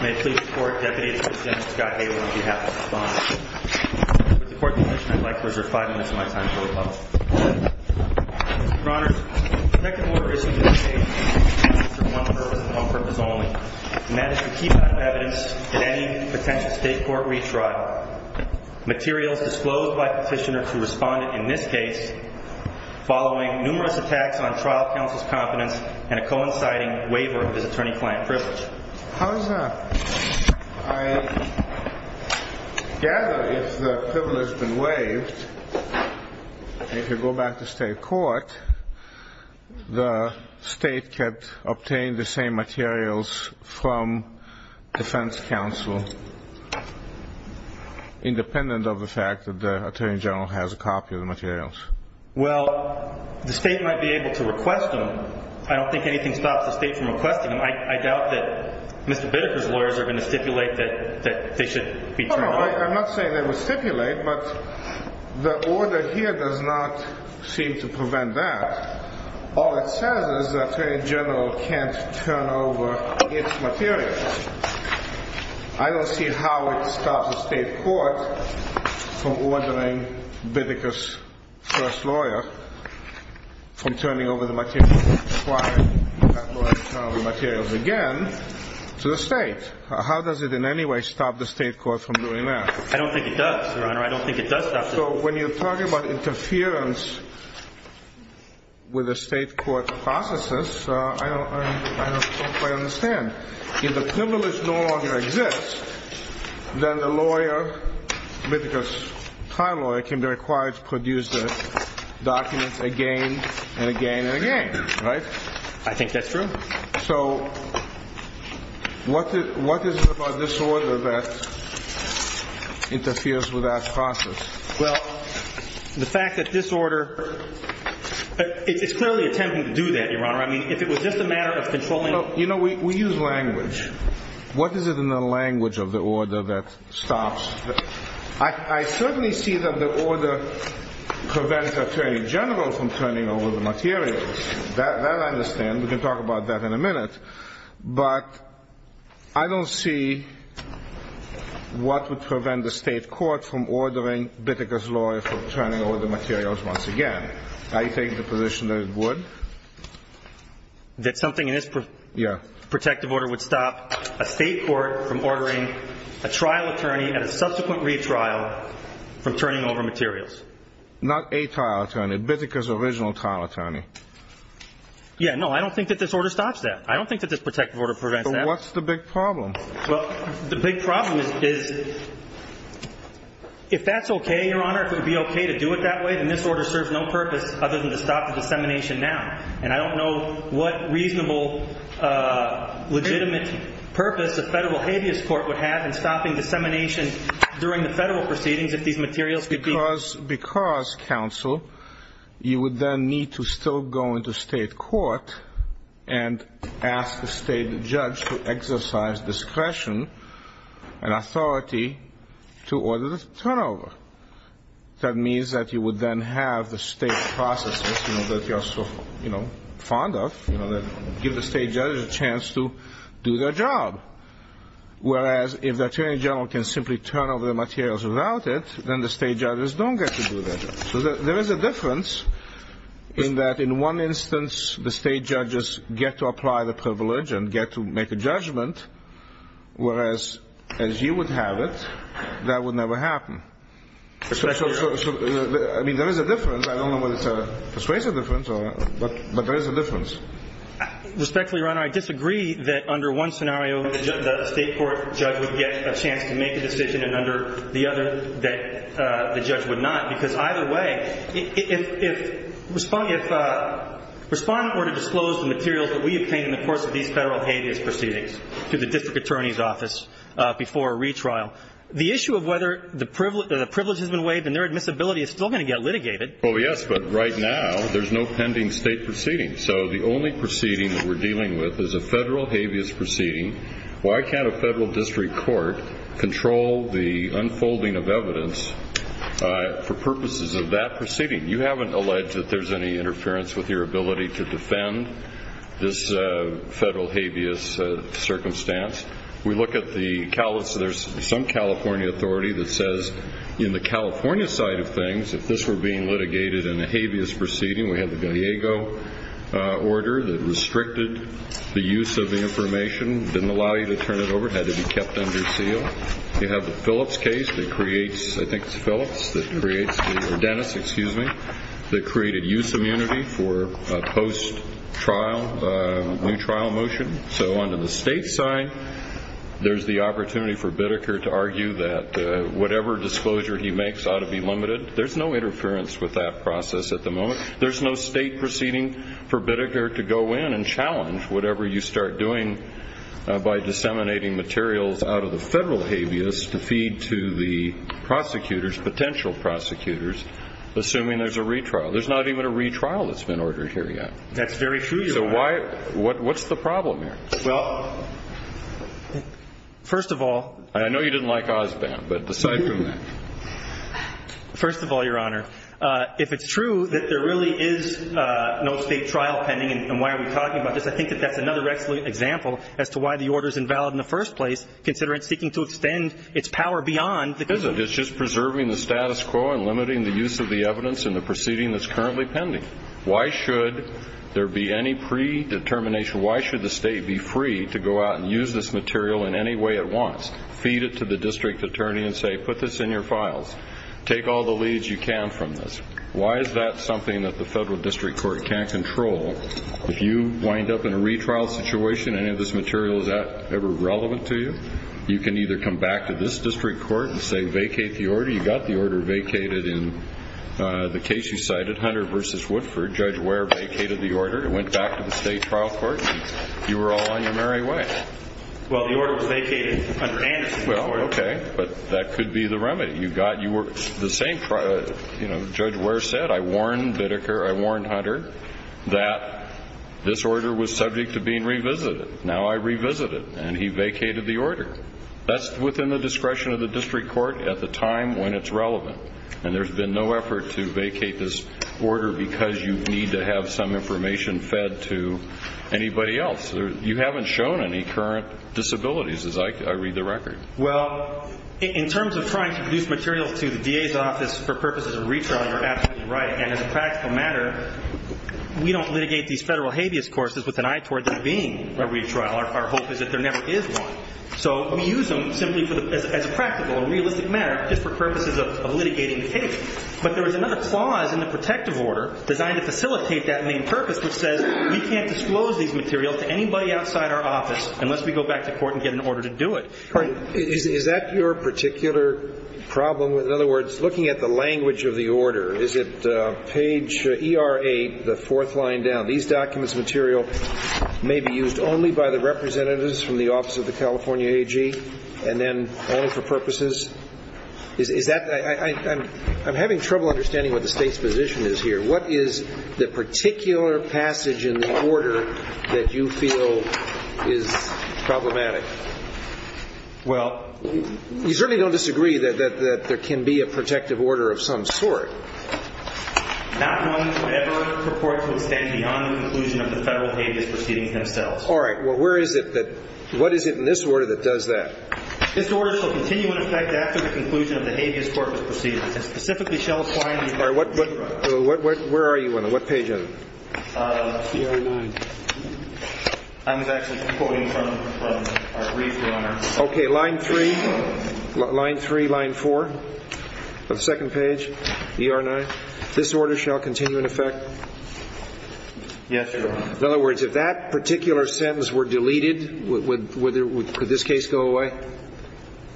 May it please the Court, Deputy Attorney General Scott Hale on behalf of the Respondent. With the Court's permission, I'd like to reserve five minutes of my time for rebuttal. Your Honors, the second order issued in this case is for one purpose and one purpose only, and that is to keep out of evidence at any potential State Court retrial. Materials disclosed by Petitioner to Respondent in this case following numerous attacks on trial counsel's confidence and a coinciding waiver of his attorney-client privilege. I gather if the privilege has been waived and if you go back to State Court the State can obtain the same materials from defense counsel independent of the fact that the Attorney General has a copy of the materials. Well, the State might be able to request them I don't think anything stops the State from requesting them. I doubt that Mr. Bittaker's lawyers are going to stipulate that they should be turned over. I'm not saying they would stipulate, but the order here does not seem to prevent that. All it says is the Attorney General can't turn over its materials. I don't see how it stops the State Court from ordering Bittaker's first lawyer from turning over the materials required for that lawyer to turn over the materials again to the State. How does it in any way stop the State Court from doing that? I don't think it does, Your Honor. I don't think it does stop them. So when you're talking about interference with the State Court's processes, I don't quite understand. If the privilege no longer exists then the lawyer, Bittaker's trial lawyer, can be required to produce the documents again and again and again, right? I think that's true. So what is it about this order that interferes with that process? Well, the fact that this order it's clearly attempting to do that, Your Honor. I mean, if it was just a matter of controlling... You know, we use language. What is it in the language of the order that stops... I certainly see that the order prevents the Attorney General from turning over the materials. That I understand. We can talk about that in a minute. But I don't see what would prevent the State Court from ordering Bittaker's lawyer from turning over the materials once again. I think the position is good. That something in this protective order would stop a State Court from ordering a retrial from turning over materials. Not a trial attorney. Bittaker's original trial attorney. Yeah, no, I don't think that this order stops that. I don't think that this protective order prevents that. So what's the big problem? Well, the big problem is if that's okay, Your Honor, if it would be okay to do it that way, then this order serves no purpose other than to stop the dissemination now. And I don't know what reasonable legitimate purpose a federal habeas court would have in stopping dissemination during the federal proceedings if these materials could be... Because, counsel, you would then need to still go into State Court and ask the State judge to exercise discretion and authority to order the turnover. That means that you would then have the State processes that you're so fond of. Give the State judge a chance to do their job. Whereas if the Attorney General can simply turn over the materials without it, then the State judges don't get to do that. So there is a difference in that in one instance the State judges get to apply the privilege and get to make a judgment, whereas as you would have it, that would never happen. I mean, there is a difference. I don't know whether it's a persuasive difference or not, but there is a difference. Respectfully, Your Honor, I disagree that under one scenario the State court judge would get a chance to make a decision and under the other that the judge would not, because either way, if Respondent were to disclose the materials that we obtained in the course of these federal habeas proceedings to the District Attorney's Office before a retrial, the issue of whether the privilege has been waived and their admissibility is still going to get litigated... Oh, yes, but right now there's no pending State proceedings. So the only federal habeas proceeding... Why can't a federal district court control the unfolding of evidence for purposes of that proceeding? You haven't alleged that there's any interference with your ability to defend this federal habeas circumstance. We look at the... There's some California authority that says in the California side of things, if this were being litigated in a habeas proceeding, we have the Gallego order that restricted the use of the information, didn't allow you to turn it over, had to be kept under seal. You have the Phillips case that creates I think it's Phillips that creates... Dennis, excuse me, that created use immunity for post-trial new trial motion. So under the State side, there's the opportunity for Bideker to argue that whatever disclosure he makes ought to be limited. There's no interference with that process at the moment. There's no State proceeding for Bideker to go in and challenge whatever you start doing by disseminating materials out of the federal habeas to feed to the prosecutors, potential prosecutors, assuming there's a retrial. There's not even a retrial that's been ordered here yet. That's very true, Your Honor. So why... What's the problem here? Well... First of all... I know you didn't like Osbam, but decide from that. First of all, Your Honor, if it's true that there really is no State trial pending, and why are we talking about this? I think that that's another excellent example as to why the order's invalid in the first place, considering it's seeking to extend its power beyond the... It's just preserving the status quo and limiting the use of the evidence in the proceeding that's currently pending. Why should there be any predetermination? Why should the State be free to go out and use this material in any way it wants? Feed it to the district attorney and say, put this in your files. Take all the leads you can from this. Why is that something that the federal district court can't control? If you wind up in a retrial situation, any of this material, is that ever relevant to you? You can either come back to this district court and say, vacate the order. You got the order vacated in the case you cited, Hunter v. Woodford. Judge Ware vacated the order. It went back to the State trial court, and you were all on your merry way. Well, the order was vacated under Anderson. Well, okay. But that could be the remedy. Judge Ware said, I warned Bitteker, I warned Hunter, that this order was subject to being revisited. Now I revisit it. And he vacated the order. That's within the discretion of the district court at the time when it's relevant. And there's been no effort to vacate this order because you need to have some information fed to anybody else. You haven't shown any current disabilities, as I read the record. Well, in terms of trying to produce material to the DA's office for purposes of retrial, you're absolutely right. And as a practical matter, we don't litigate these federal habeas courses with an eye towards it being a retrial. Our hope is that there never is one. So we use them simply as a practical and realistic matter just for purposes of litigating the case. But there is another clause in the protective order designed to facilitate that main purpose which says, we can't disclose these materials to anybody outside our office unless we go back to court and get an order to do it. Is that your particular problem? In other words, looking at the language of the order, is it page ER8, the fourth line down, these documents material may be used only by the representatives from the office of the California AG, and then only for purposes? Is that, I'm having trouble understanding what the State's position is here. What is the particular passage in the order that you feel is problematic? Well, you certainly don't disagree that there can be a protective order of some sort. Not known to ever purport to extend beyond the conclusion of the federal habeas proceedings themselves. All right. Well, where is it that, what is it in this order that does that? This order shall continue in effect after the conclusion of the habeas court proceedings, and specifically shall apply in the event of a retrial. Where are you on that? What page are you on? ER9. I was actually quoting from our brief, Your Honor. Okay, line 3, line 3, line 4, on the second page, ER9. This order shall continue in effect? Yes, Your Honor. In other words, if that particular sentence were deleted, would this case go away?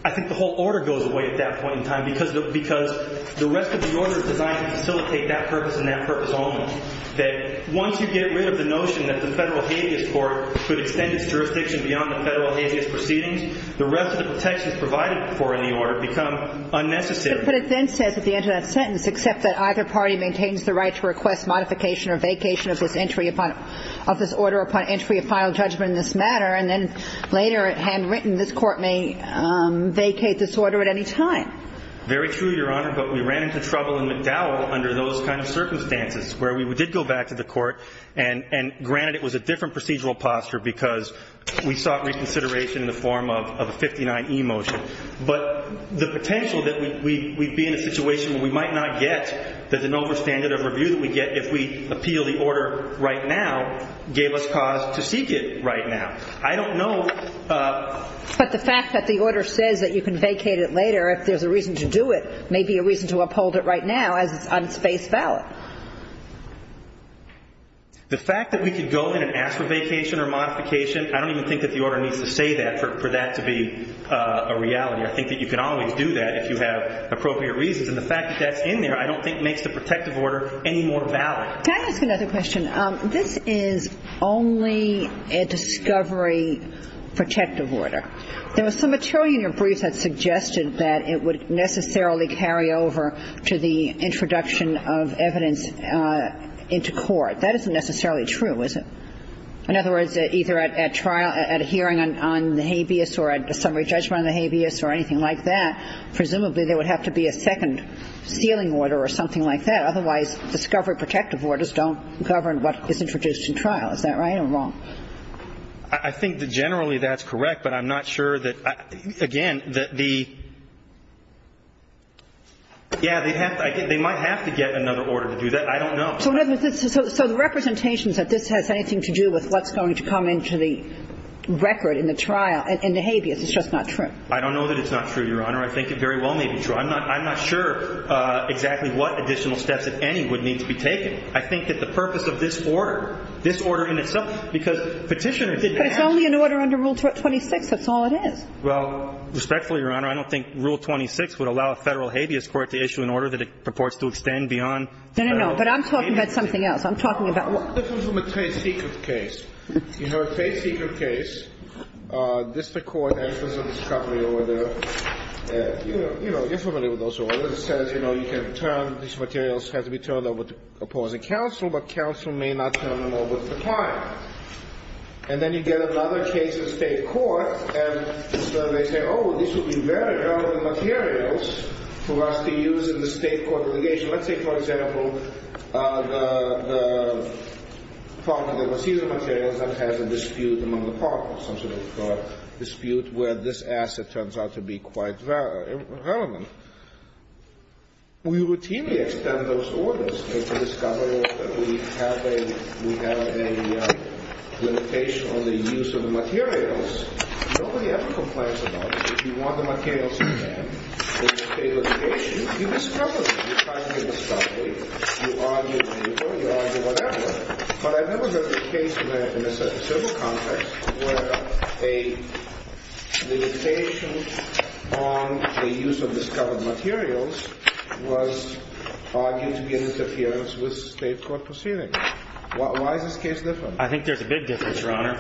I think the whole order goes away at that point in time, because the rest of the order is designed to facilitate that purpose only. That once you get rid of the notion that the federal habeas court could extend its jurisdiction beyond the federal habeas proceedings, the rest of the protections provided for in the order become unnecessary. But it then says at the end of that sentence, except that either party maintains the right to request modification or vacation of this entry upon, of this order upon entry of final judgment in this matter, and then later, handwritten, this court may vacate this order at any time. Very true, Your Honor, but we ran into trouble in McDowell under those kind of circumstances, where we did go back to the court and, granted, it was a different procedural posture because we sought reconsideration in the form of a 59E motion. But the potential that we'd be in a situation where we might not get that an overstander of review that we get if we appeal the order right now gave us cause to seek it right now. I don't know But the fact that the order says that you can vacate it later if there's a reason to do it may be a reason to uphold it right now as it's unspaced valid. The fact that we could go in and ask for vacation or modification, I don't even think that the order needs to say that for that to be a reality. I think that you can always do that if you have appropriate reasons. And the fact that that's in there, I don't think, makes the protective order any more valid. Can I ask another question? This is only a discovery protective order. There was some material in your brief that suggested that it would necessarily carry over to the introduction of evidence into court. That isn't necessarily true, is it? In other words, either at trial, at a hearing on the habeas or a summary judgment on the habeas or anything like that, presumably there would have to be a second sealing order or something like that. Otherwise, discovery protective orders don't govern what is introduced in trial. Is that right or wrong? I think that generally that's correct, but I'm not sure that again, that the yeah, they might have to get another order to do that. I don't know. So the representations that this has anything to do with what's going to come into the record in the trial and the habeas, it's just not true? I don't know that it's not true, Your Honor. I think it very well may be true. I'm not sure exactly what additional steps, if any, would need to be taken. I think that the purpose of this order, this order in itself, because Petitioner did ask But it's only an order under Rule 26. That's all it is. Well, respectfully, Your Honor, I don't think Rule 26 would allow a Federal habeas court to issue an order that it purports to extend beyond Federal habeas. No, no, no. But I'm talking about something else. I'm talking about what This is from a trade secret case. You know, a trade secret case. District Court answers a discovery order. You know, you're familiar with those orders. It says, you know, you can turn these materials have to be turned over to opposing counsel, but counsel may not turn them over to the client. And then you get another case in State court, and they say, oh, this would be very relevant materials for us to use in the State court litigation. Let's say, for example, the partner that receives the materials that has a dispute among the partners, some sort of dispute where this asset turns out to be quite relevant. We routinely extend those orders. We have a limitation on the use of the materials. Nobody ever complains about it. If you want the materials to be there for the State litigation, you discover them. You try to get discovery. You argue and you go, you argue, whatever. But I've never heard a case in a civil context where a limitation on the use of materials was State court proceeding. Why is this case different? I think there's a big difference, Your Honor.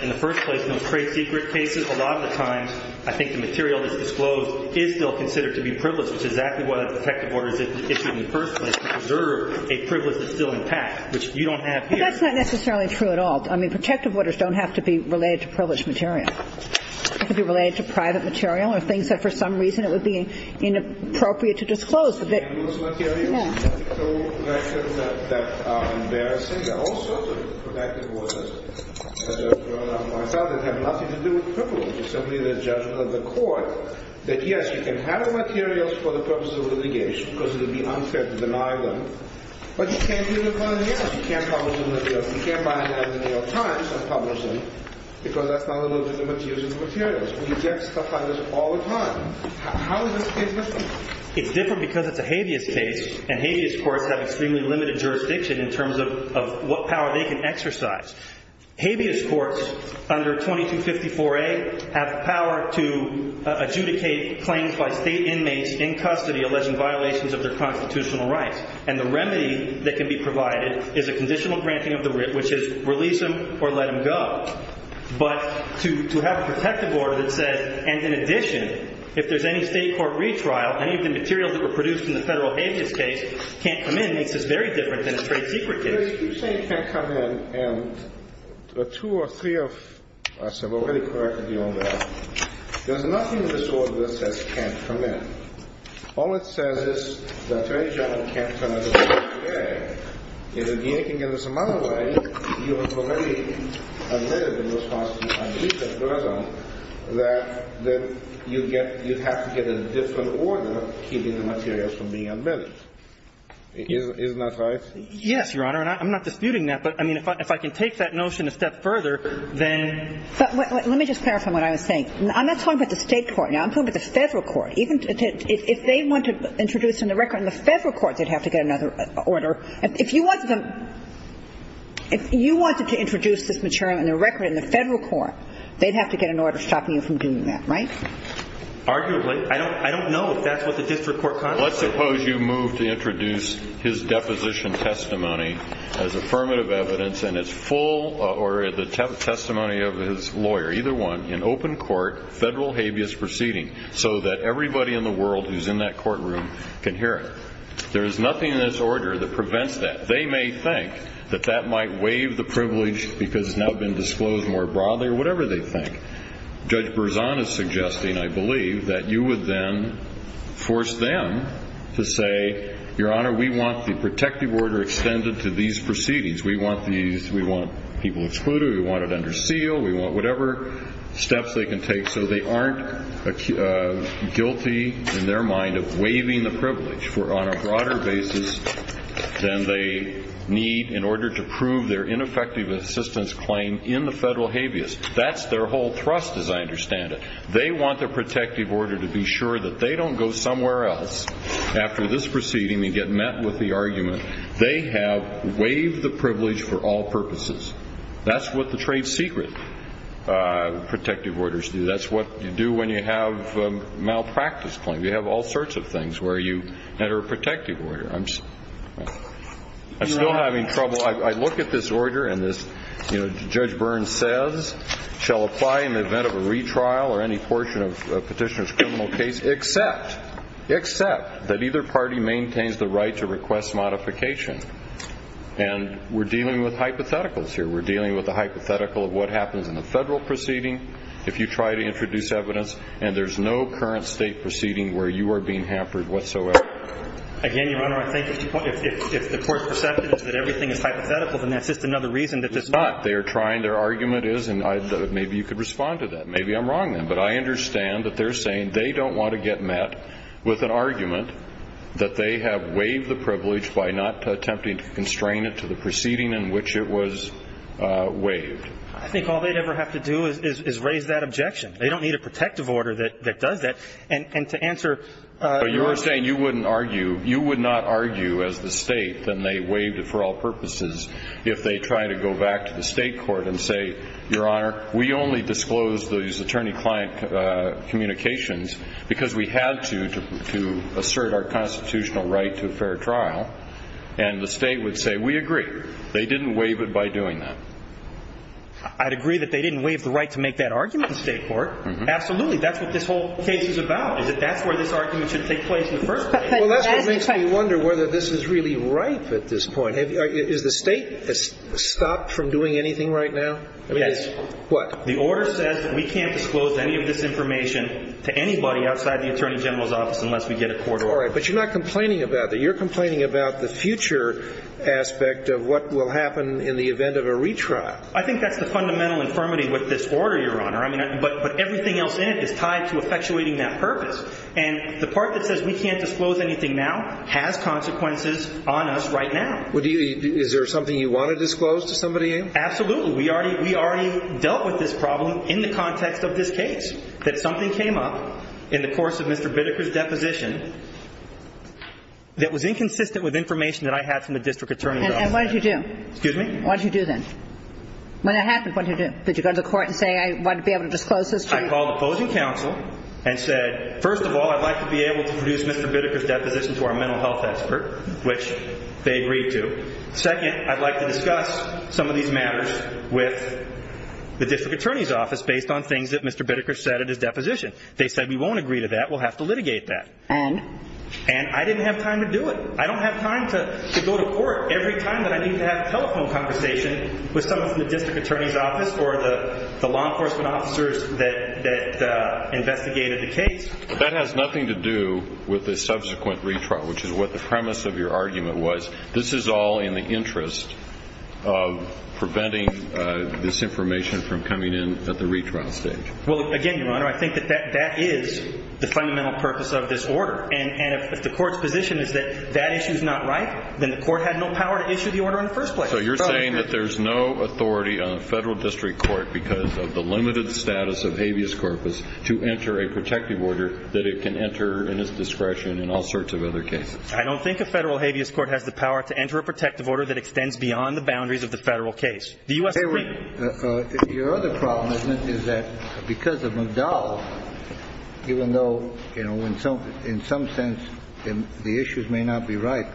In the first place, those trade secret cases, a lot of the times, I think the material that's disclosed is still considered to be privileged, which is exactly why the protective order is issued in the first place, to preserve a privilege that's still intact, which you don't have here. But that's not necessarily true at all. I mean, protective orders don't have to be related to privileged material. It could be related to private material or things that for some reason it would be inappropriate to disclose. You can't disclose materials that are embarrassing. There are all sorts of protective orders that have nothing to do with privilege. It's simply the judgment of the court that yes, you can have the materials for the purposes of litigation because it would be unfair to deny them. But you can't do that by mail. You can't publish them in the New York Times and publish them because that's not a little bit different to using the materials. You get stuff like this all the time. How is this case different? It's different because it's a habeas case and habeas courts have extremely limited jurisdiction in terms of what power they can exercise. Habeas courts under 2254A have the power to adjudicate claims by state inmates in custody alleging violations of their constitutional rights. And the remedy that can be provided is a conditional granting of the writ, which is release them or let them go. But to have a protective order that says, and in addition, if there's any state court retrial, any of the materials that were produced in the federal habeas case can't come in, makes this very different than a trade secret case. But if you say it can't come in and two or three of us have already corrected you on that, there's nothing in this order that says it can't come in. All it says is the attorney general can't turn it away. If the attorney general can give this amount away, you have already admitted in response to my recent version that you have to get a different order keeping the materials from being unveiled. Isn't that right? Yes, Your Honor. And I'm not disputing that. But, I mean, if I can take that notion a step further, then ---- But let me just clarify what I was saying. I'm not talking about the state court. Now, I'm talking about the federal court. If they wanted to introduce in the record in the federal court, they'd have to get another order. If you wanted to introduce this material in the record in the federal court, they'd have to get an order stopping you from doing that, right? Arguably. I don't know if that's what the district court contemplates. Let's suppose you move to introduce his deposition testimony as affirmative evidence and it's full or the testimony of his lawyer, either one, in open court, federal habeas proceeding, so that everybody in the world who's in that courtroom can hear it. There is nothing in this order that prevents that. They may think that that might waive the privilege because it's now been disclosed more broadly or whatever they think. Judge Berzon is suggesting, I believe, that you would then force them to say, Your Honor, we want the protective order extended to these proceedings. We want people excluded. We want it under seal. We want whatever steps they can take so they aren't guilty in their mind of on a broader basis than they need in order to prove their ineffective assistance claim in the federal habeas. That's their whole thrust, as I understand it. They want their protective order to be sure that they don't go somewhere else after this proceeding and get met with the argument. They have waived the privilege for all purposes. That's what the trade secret protective orders do. That's what you do when you have a malpractice claim. You have all sorts of things where you enter a protective order. I'm still having trouble. I look at this order and Judge Berzon says, Shall apply in the event of a retrial or any portion of a petitioner's criminal case except that either party maintains the right to request modification. And we're dealing with hypotheticals here. We're dealing with a hypothetical of what happens in the federal proceeding if you try to introduce evidence and there's no current state proceeding where you are being hampered whatsoever. Again, Your Honor, I think if the court's perception is that everything is hypothetical, then that's just another reason that this is not. They are trying. Their argument is, and maybe you could respond to that. Maybe I'm wrong then. But I understand that they're saying they don't want to get met with an argument that they have waived the privilege by not attempting to constrain it to the proceeding in which it was waived. I think all they'd ever have to do is raise that objection. They don't need a protective order that does that. And to answer your question. But you're saying you wouldn't argue. You would not argue as the state that they waived it for all purposes if they tried to go back to the state court and say, Your Honor, we only disclosed those attorney-client communications because we had to assert our constitutional right to a fair trial. And the state would say, We agree. They didn't waive it by doing that. I'd agree that they didn't waive the right to make that argument in state court. Absolutely. That's what this whole case is about, is that that's where this argument should take place in the first place. Well, that's what makes me wonder whether this is really ripe at this point. Has the state stopped from doing anything right now? Yes. What? The order says that we can't disclose any of this information to anybody outside the Attorney General's office unless we get a court order. All right. But you're not complaining about that. You're complaining about the future aspect of what will happen in the event of a retrial. I think that's the fundamental infirmity with this order, Your Honor. But everything else in it is tied to effectuating that purpose. And the part that says we can't disclose anything now has consequences on us right now. Is there something you want to disclose to somebody? Absolutely. We already dealt with this problem in the context of this case, that something came up in the course of Mr. Bideker's deposition that was inconsistent with information that I had from the district attorney's office. And what did you do? Excuse me? What did you do then? When that happened, what did you do? Did you go to the court and say, I want to be able to disclose this to you? I called opposing counsel and said, first of all, I'd like to be able to produce Mr. Bideker's deposition to our mental health expert, which they agreed to. Second, I'd like to discuss some of these matters with the district attorney's office based on things that Mr. Bideker said at his deposition. They said, we won't agree to that. We'll have to litigate that. And? And I didn't have time to do it. I don't have time to go to court every time that I need to have a telephone conversation with someone from the district attorney's office or the law enforcement officers that investigated the case. That has nothing to do with the subsequent retrial, which is what the premise of your argument was. This is all in the interest of preventing this information from coming in at the retrial stage. Well, again, Your Honor, I think that that is the fundamental purpose of this order. And if the court's position is that that issue is not right, then the court had no power to issue the order in the first place. So you're saying that there's no authority on a federal district court because of the limited status of habeas corpus to enter a protective order that it can enter in its discretion in all sorts of other cases. I don't think a federal habeas court has the power to enter a protective order that extends beyond the boundaries of the federal case. The U.S. Supreme Court. Your other problem is that because of McDowell, even though in some sense the issues may not be right,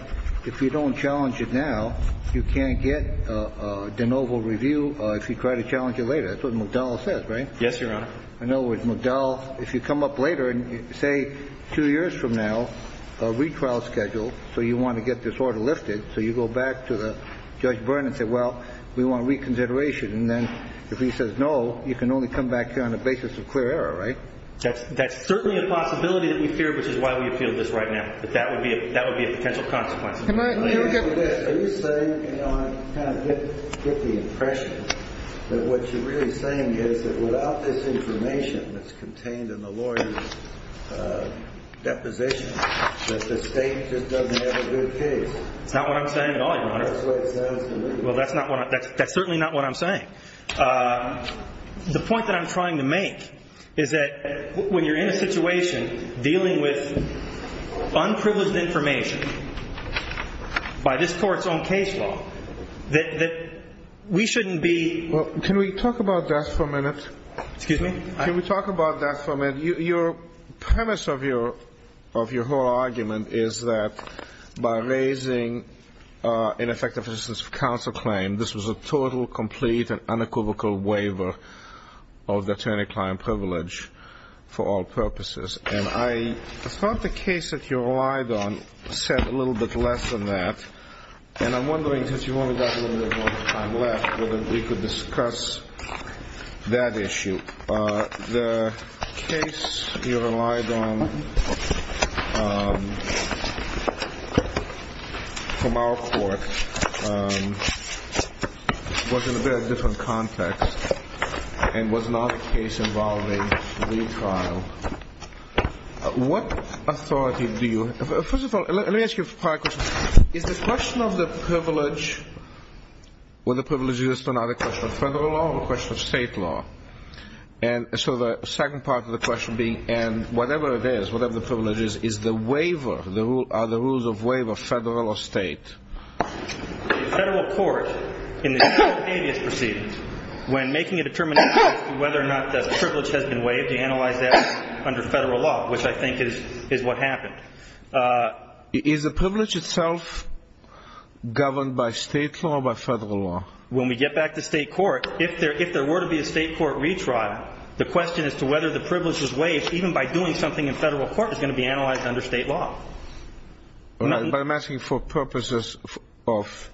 if you don't challenge it now, you can't get de novo review if you try to challenge it later. That's what McDowell says, right? Yes, Your Honor. In other words, McDowell, if you come up later and say two years from now, a retrial schedule, so you want to get this order lifted, so you go back to Judge Byrne and say, well, we want reconsideration. And then if he says no, you can only come back here on the basis of clear error, right? That's certainly a possibility that we fear, which is why we appeal this right now. But that would be a potential consequence. Are you saying, Your Honor, to kind of get the impression that what you're really saying is that without this information that's contained in the lawyer's deposition that the state just doesn't have a good case? That's not what I'm saying at all, Your Honor. That's the way it sounds to me. The point that I'm trying to make is that when you're in a situation dealing with unprivileged information by this court's own case law, that we shouldn't be- Can we talk about that for a minute? Excuse me? Can we talk about that for a minute? Your premise of your whole argument is that by raising ineffective assistance of counsel claim, this was a total, complete, and unequivocal waiver of the attorney-client privilege for all purposes. And I thought the case that you relied on said a little bit less than that. And I'm wondering, since you only have a little bit more time left, whether we could discuss that issue. The case you relied on from our court was in a very different context and was not a case involving retrial. What authority do you- First of all, let me ask you a prior question. Is the question of the privilege, whether the privilege exists or not, a question of federal law or a question of state law? And so the second part of the question being, and whatever it is, whatever the privilege is, is the waiver, are the rules of waiver federal or state? The federal court, in the case of the habeas proceedings, when making a determination as to whether or not the privilege has been waived, they analyze that under federal law, which I think is what happened. Is the privilege itself governed by state law or by federal law? When we get back to state court, if there were to be a state court retrial, the question as to whether the privilege was waived, even by doing something in federal court, is going to be analyzed under state law. But I'm asking for purposes of-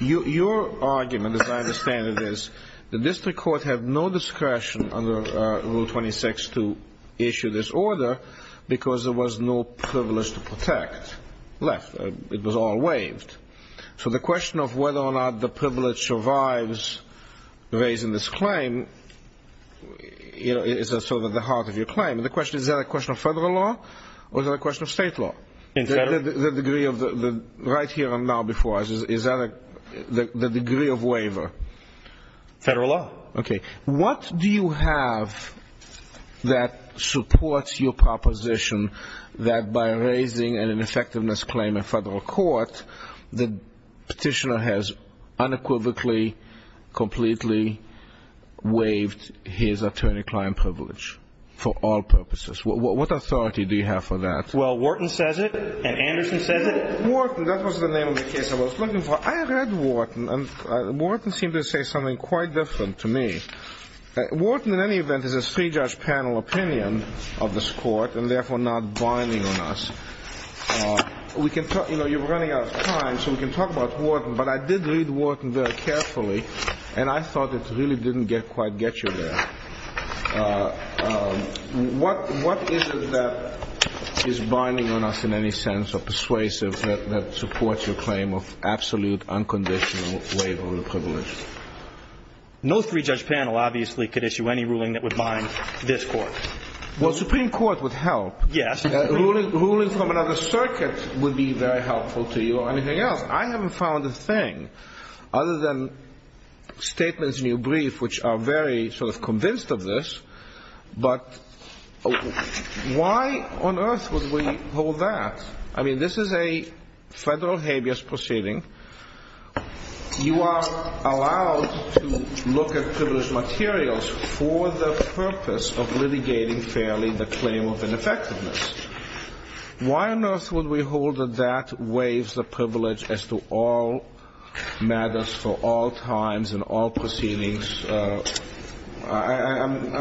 Your argument, as I understand it, is the district court had no discretion under Rule 26 to issue this order because there was no privilege to protect left. It was all waived. So the question of whether or not the privilege survives raising this claim is sort of at the heart of your claim. Is that a question of federal law or is that a question of state law? In federal. Right here and now before us, is that the degree of waiver? Federal law. Okay. What do you have that supports your proposition that by raising an ineffectiveness claim in federal court, the petitioner has unequivocally, completely waived his attorney-client privilege for all purposes? What authority do you have for that? Well, Wharton says it and Anderson says it. Wharton, that was the name of the case I was looking for. I have read Wharton and Wharton seemed to say something quite different to me. Wharton, in any event, is a three-judge panel opinion of this court and therefore not binding on us. You're running out of time so we can talk about Wharton, but I did read Wharton very carefully and I thought it really didn't quite get you there. What is it that is binding on us in any sense or persuasive that supports your claim of absolute unconditional waiver of privilege? No three-judge panel obviously could issue any ruling that would bind this court. Well, Supreme Court would help. Yes. Ruling from another circuit would be very helpful to you or anything else. I haven't found a thing other than statements in your brief which are very sort of convinced of this, but why on earth would we hold that? I mean, this is a federal habeas proceeding. You are allowed to look at privileged materials for the purpose of litigating fairly the claim of ineffectiveness. Why on earth would we hold that that waives the privilege as to all matters for all times and all proceedings? I'm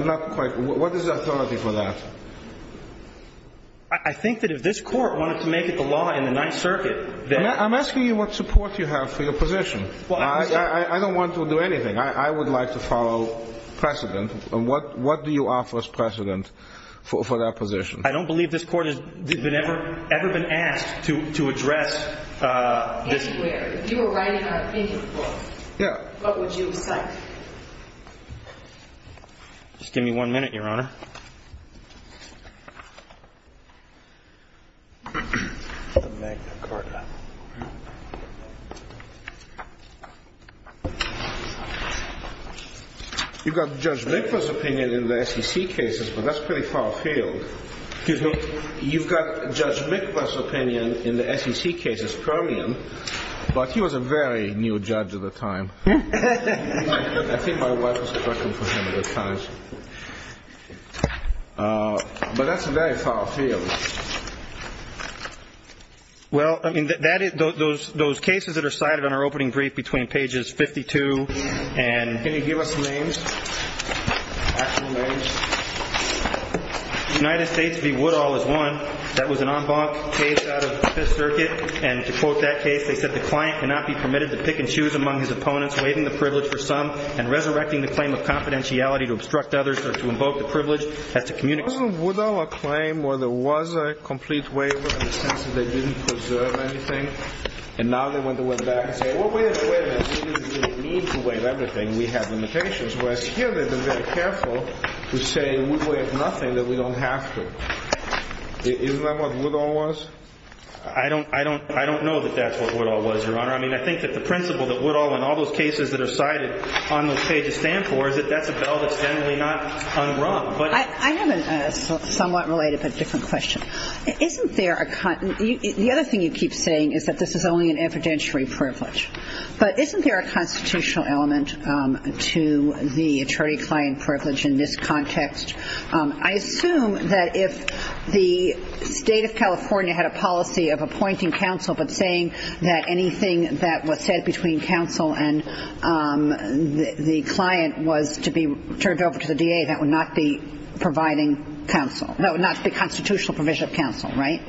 not quite what is the authority for that? I think that if this court wanted to make it the law in the Ninth Circuit, then. I'm asking you what support you have for your position. I don't want to do anything. I would like to follow precedent. What do you offer as precedent for that position? I don't believe this court has ever been asked to address this. If you were writing an opinion book, what would you cite? Just give me one minute, Your Honor. The Magna Carta. You've got Judge Mikvas' opinion in the SEC cases, but that's pretty far afield. Excuse me? You've got Judge Mikvas' opinion in the SEC cases, Permian, but he was a very new judge at the time. I think my wife was working for him at the time. But that's very far afield. Well, I mean, those cases that are cited on our opening brief between pages 52 and... Can you give us names, actual names? United States v. Woodall is one. That was an en banc case out of Fifth Circuit. And to quote that case, they said, The client cannot be permitted to pick and choose among his opponents, waiving the privilege for some, and resurrecting the claim of confidentiality to obstruct others or to invoke the privilege as to communicate... Wasn't Woodall a claim where there was a complete waiver in the sense that they didn't preserve anything? And now they went back and say, well, we have a waiver. We don't need to waive everything. We have limitations. Whereas here they've been very careful to say we waive nothing, that we don't have to. Isn't that what Woodall was? I don't know that that's what Woodall was, Your Honor. I mean, I think that the principle that Woodall and all those cases that are cited on those pages stand for is that that's a bell that's generally not unrung. I have a somewhat related but different question. The other thing you keep saying is that this is only an evidentiary privilege. But isn't there a constitutional element to the attorney-client privilege in this context? I assume that if the State of California had a policy of appointing counsel but saying that anything that was said between counsel and the client was to be turned over to the DA, that would not be providing counsel. No, not the constitutional provision of counsel, right?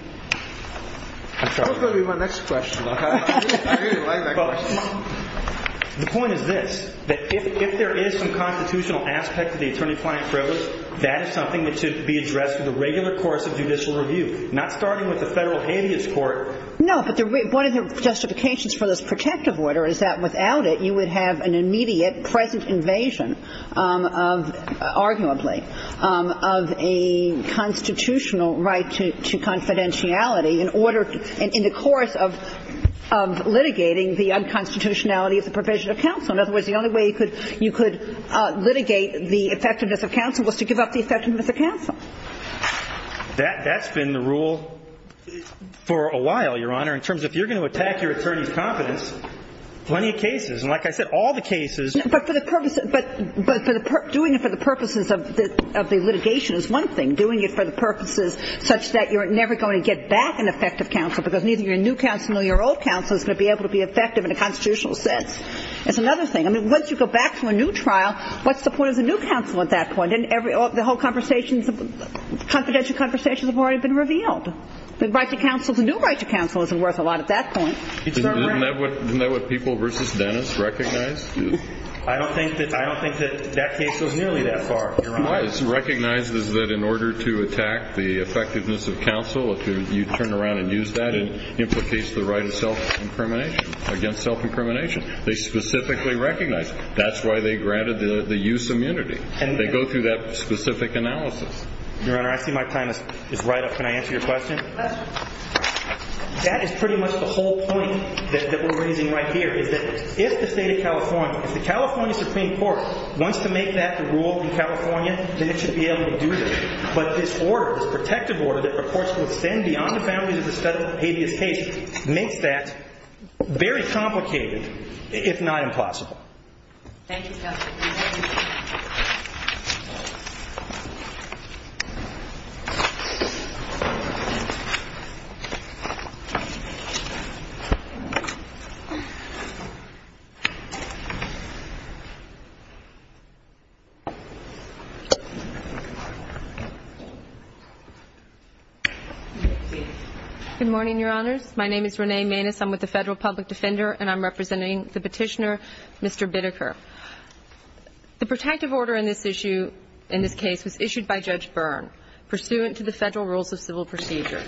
That's probably my next question. I really like that question. The point is this, that if there is some constitutional aspect to the attorney-client privilege, that is something that should be addressed in the regular course of judicial review, not starting with the Federal Habeas Court. No, but one of the justifications for this protective order is that without it, you would have an immediate present invasion of, arguably, of a constitutional right to confidentiality in the course of litigating the unconstitutionality of the provision of counsel. In other words, the only way you could litigate the effectiveness of counsel was to give up the effectiveness of counsel. That's been the rule for a while, Your Honor, in terms of if you're going to attack your attorney's confidence, plenty of cases. And like I said, all the cases do that. But doing it for the purposes of the litigation is one thing. And doing it for the purposes such that you're never going to get back an effective counsel because neither your new counsel nor your old counsel is going to be able to be effective in a constitutional sense is another thing. I mean, once you go back to a new trial, what's the point of the new counsel at that point? The whole confidential conversations have already been revealed. The new right to counsel isn't worth a lot at that point. Isn't that what People v. Dennis recognized? I don't think that that case goes nearly that far, Your Honor. It recognizes that in order to attack the effectiveness of counsel, if you turn around and use that, it implicates the right of self-incrimination, against self-incrimination. They specifically recognize it. That's why they granted the use immunity. They go through that specific analysis. Your Honor, I see my time is right up. Can I answer your question? That is pretty much the whole point that we're raising right here, is that if the State of California, if the California Supreme Court wants to make that the rule in California, then it should be able to do that. But this order, this protective order that, of course, will extend beyond the boundaries of the study of the habeas case, makes that very complicated, if not impossible. Thank you, counsel. Good morning, Your Honors. My name is Renee Maness. I'm with the Federal Public Defender, and I'm representing the Petitioner, Mr. Bideker. The protective order in this issue, in this case, was issued by Judge Byrne, pursuant to the Federal Rules of Civil Procedure.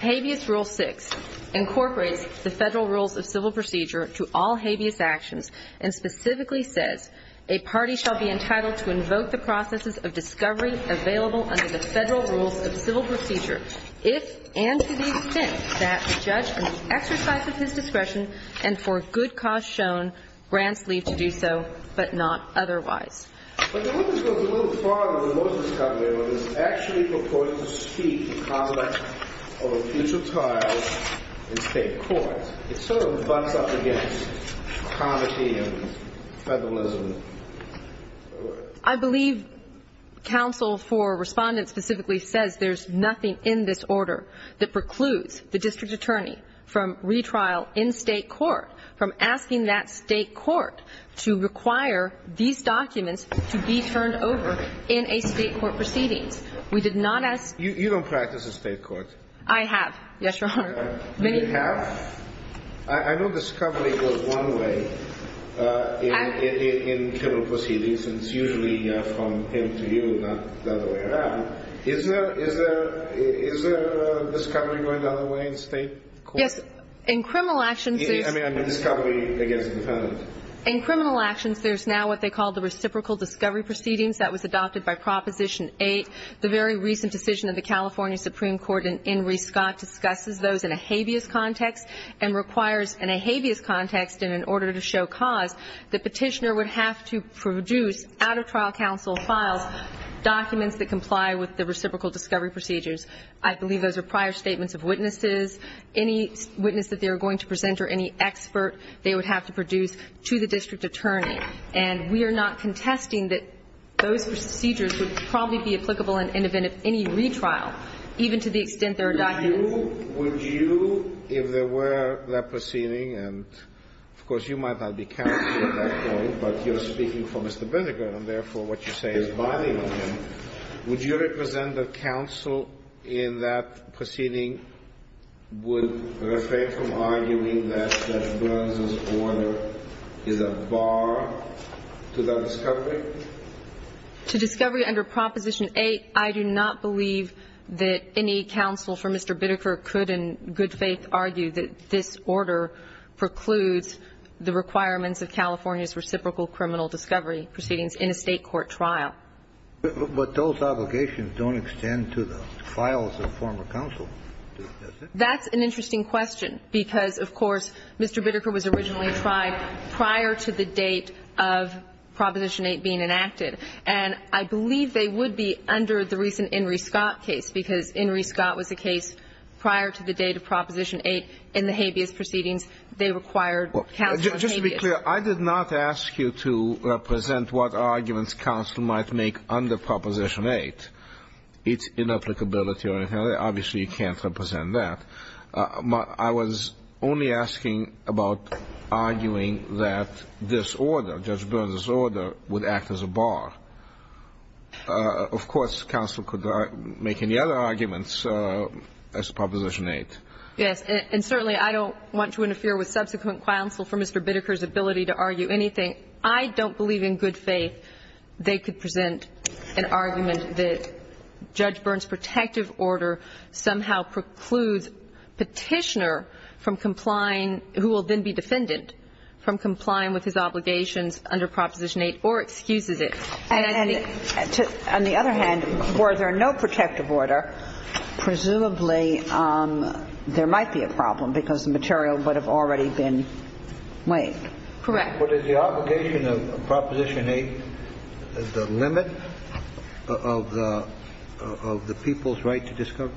Habeas Rule 6 incorporates the Federal Rules of Civil Procedure to all habeas actions in the State of California. And specifically says, a party shall be entitled to invoke the processes of discovery available under the Federal Rules of Civil Procedure, if and to the extent that the judge, in the exercise of his discretion, and for good cause shown, grants leave to do so, but not otherwise. But the order goes a little farther than most of the stuff we have on this. It actually purports to speak the conduct of a future trial in State court. It sort of butts up against comity and federalism. I believe counsel for Respondent specifically says there's nothing in this order that precludes the district attorney from retrial in State court, from asking that State court to require these documents to be turned over in a State court proceedings. We did not ask. You don't practice in State court. I have. Yes, Your Honor. You have? I know discovery goes one way in criminal proceedings. And it's usually from him to you, not the other way around. Is there discovery going the other way in State court? Yes. In criminal actions there's now what they call the reciprocal discovery proceedings. That was adopted by Proposition 8. The very recent decision of the California Supreme Court in Inree Scott discusses those in a habeas context and requires in a habeas context and in order to show cause, the Petitioner would have to produce out of trial counsel files documents that comply with the reciprocal discovery procedures. I believe those are prior statements of witnesses. Any witness that they are going to present or any expert they would have to produce to the district attorney. And we are not contesting that those procedures would probably be applicable in the event of any retrial, even to the extent there are documents. Would you, if there were that proceeding, and, of course, you might not be counsel at that point, but you're speaking for Mr. Bindergaard and, therefore, what you say is binding on him, would you represent the counsel in that proceeding would refrain from arguing that Judge Burns' order is a bar to that discovery? To discovery under Proposition 8, I do not believe that any counsel for Mr. Bindergaard could in good faith argue that this order precludes the requirements of California's reciprocal criminal discovery proceedings in a State court trial. But those obligations don't extend to the files of former counsel, does it? That's an interesting question, because, of course, Mr. Bindergaard was originally tried prior to the date of Proposition 8 being enacted. And I believe they would be under the recent In re. Scott case, because In re. Scott was the case prior to the date of Proposition 8 in the habeas proceedings. They required counsel in habeas. Just to be clear, I did not ask you to represent what arguments counsel might make under Proposition 8. It's inapplicability or anything. Obviously, you can't represent that. I was only asking about arguing that this order, Judge Burns' order, would act as a bar. Of course, counsel could make any other arguments as to Proposition 8. Yes. And certainly I don't want to interfere with subsequent counsel for Mr. Bindergaard's ability to argue anything. I don't believe in good faith they could present an argument that Judge Burns' protective order somehow precludes Petitioner from complying, who will then be defendant, from complying with his obligations under Proposition 8 or excuses it. And I think to the other hand, were there no protective order, presumably there might be a problem, because the material would have already been waived. Correct. But is the obligation of Proposition 8 the limit of the people's right to discover?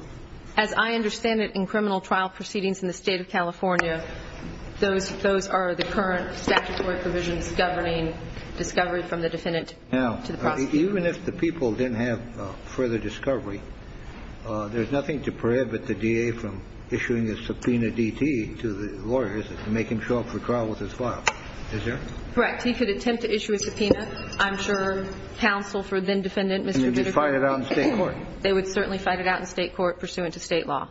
As I understand it, in criminal trial proceedings in the State of California, those are the current statutory provisions governing discovery from the defendant to the prosecutor. Now, even if the people didn't have further discovery, there's nothing to prohibit the DA from issuing a subpoena DT to the lawyers to make him show up for trial with his file. Is there? Correct. He could attempt to issue a subpoena, I'm sure, counsel for then-defendant Mr. Bindergaard. And you'd be fighting it out in State court? They would certainly fight it out in State court pursuant to State law.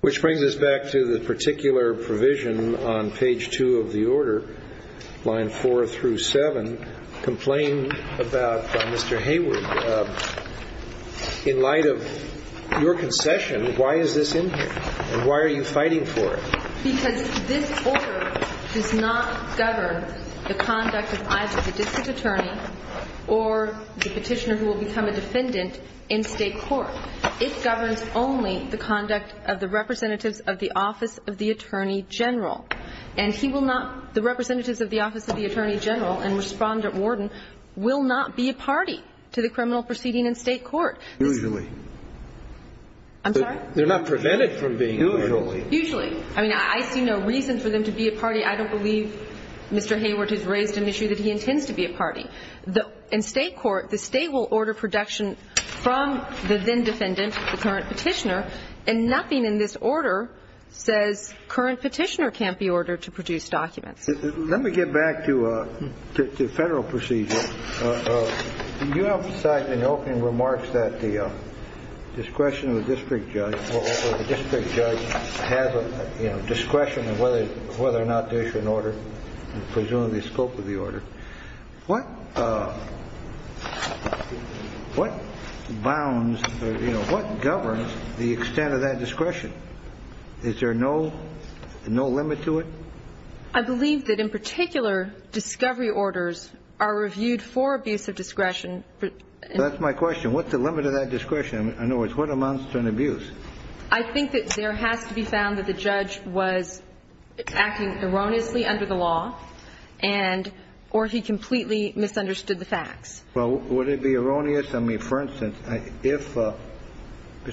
Which brings us back to the particular provision on page 2 of the order, line 4 through 7, complain about Mr. Hayward. In light of your concession, why is this in here? And why are you fighting for it? Because this order does not govern the conduct of either the district attorney or the petitioner who will become a defendant in State court. It governs only the conduct of the representatives of the Office of the Attorney General. And he will not the representatives of the Office of the Attorney General and Respondent Warden will not be a party to the criminal proceeding in State court. Usually. I'm sorry? They're not prevented from being a party. Usually. I mean, I see no reason for them to be a party. I don't believe Mr. Hayward has raised an issue that he intends to be a party. In State court, the State will order production from the then-defendant, the current petitioner, and nothing in this order says current petitioner can't be ordered to produce documents. Let me get back to Federal procedure. You have said in opening remarks that the discretion of the district judge or the district judge has a discretion of whether or not to issue an order, presumably the scope of the order. What bounds or what governs the extent of that discretion? Is there no limit to it? I believe that in particular discovery orders are reviewed for abuse of discretion. That's my question. What's the limit of that discretion? In other words, what amounts to an abuse? I think that there has to be found that the judge was acting erroneously under the law and or he completely misunderstood the facts. Well, would it be erroneous? I mean, for instance, if Mr.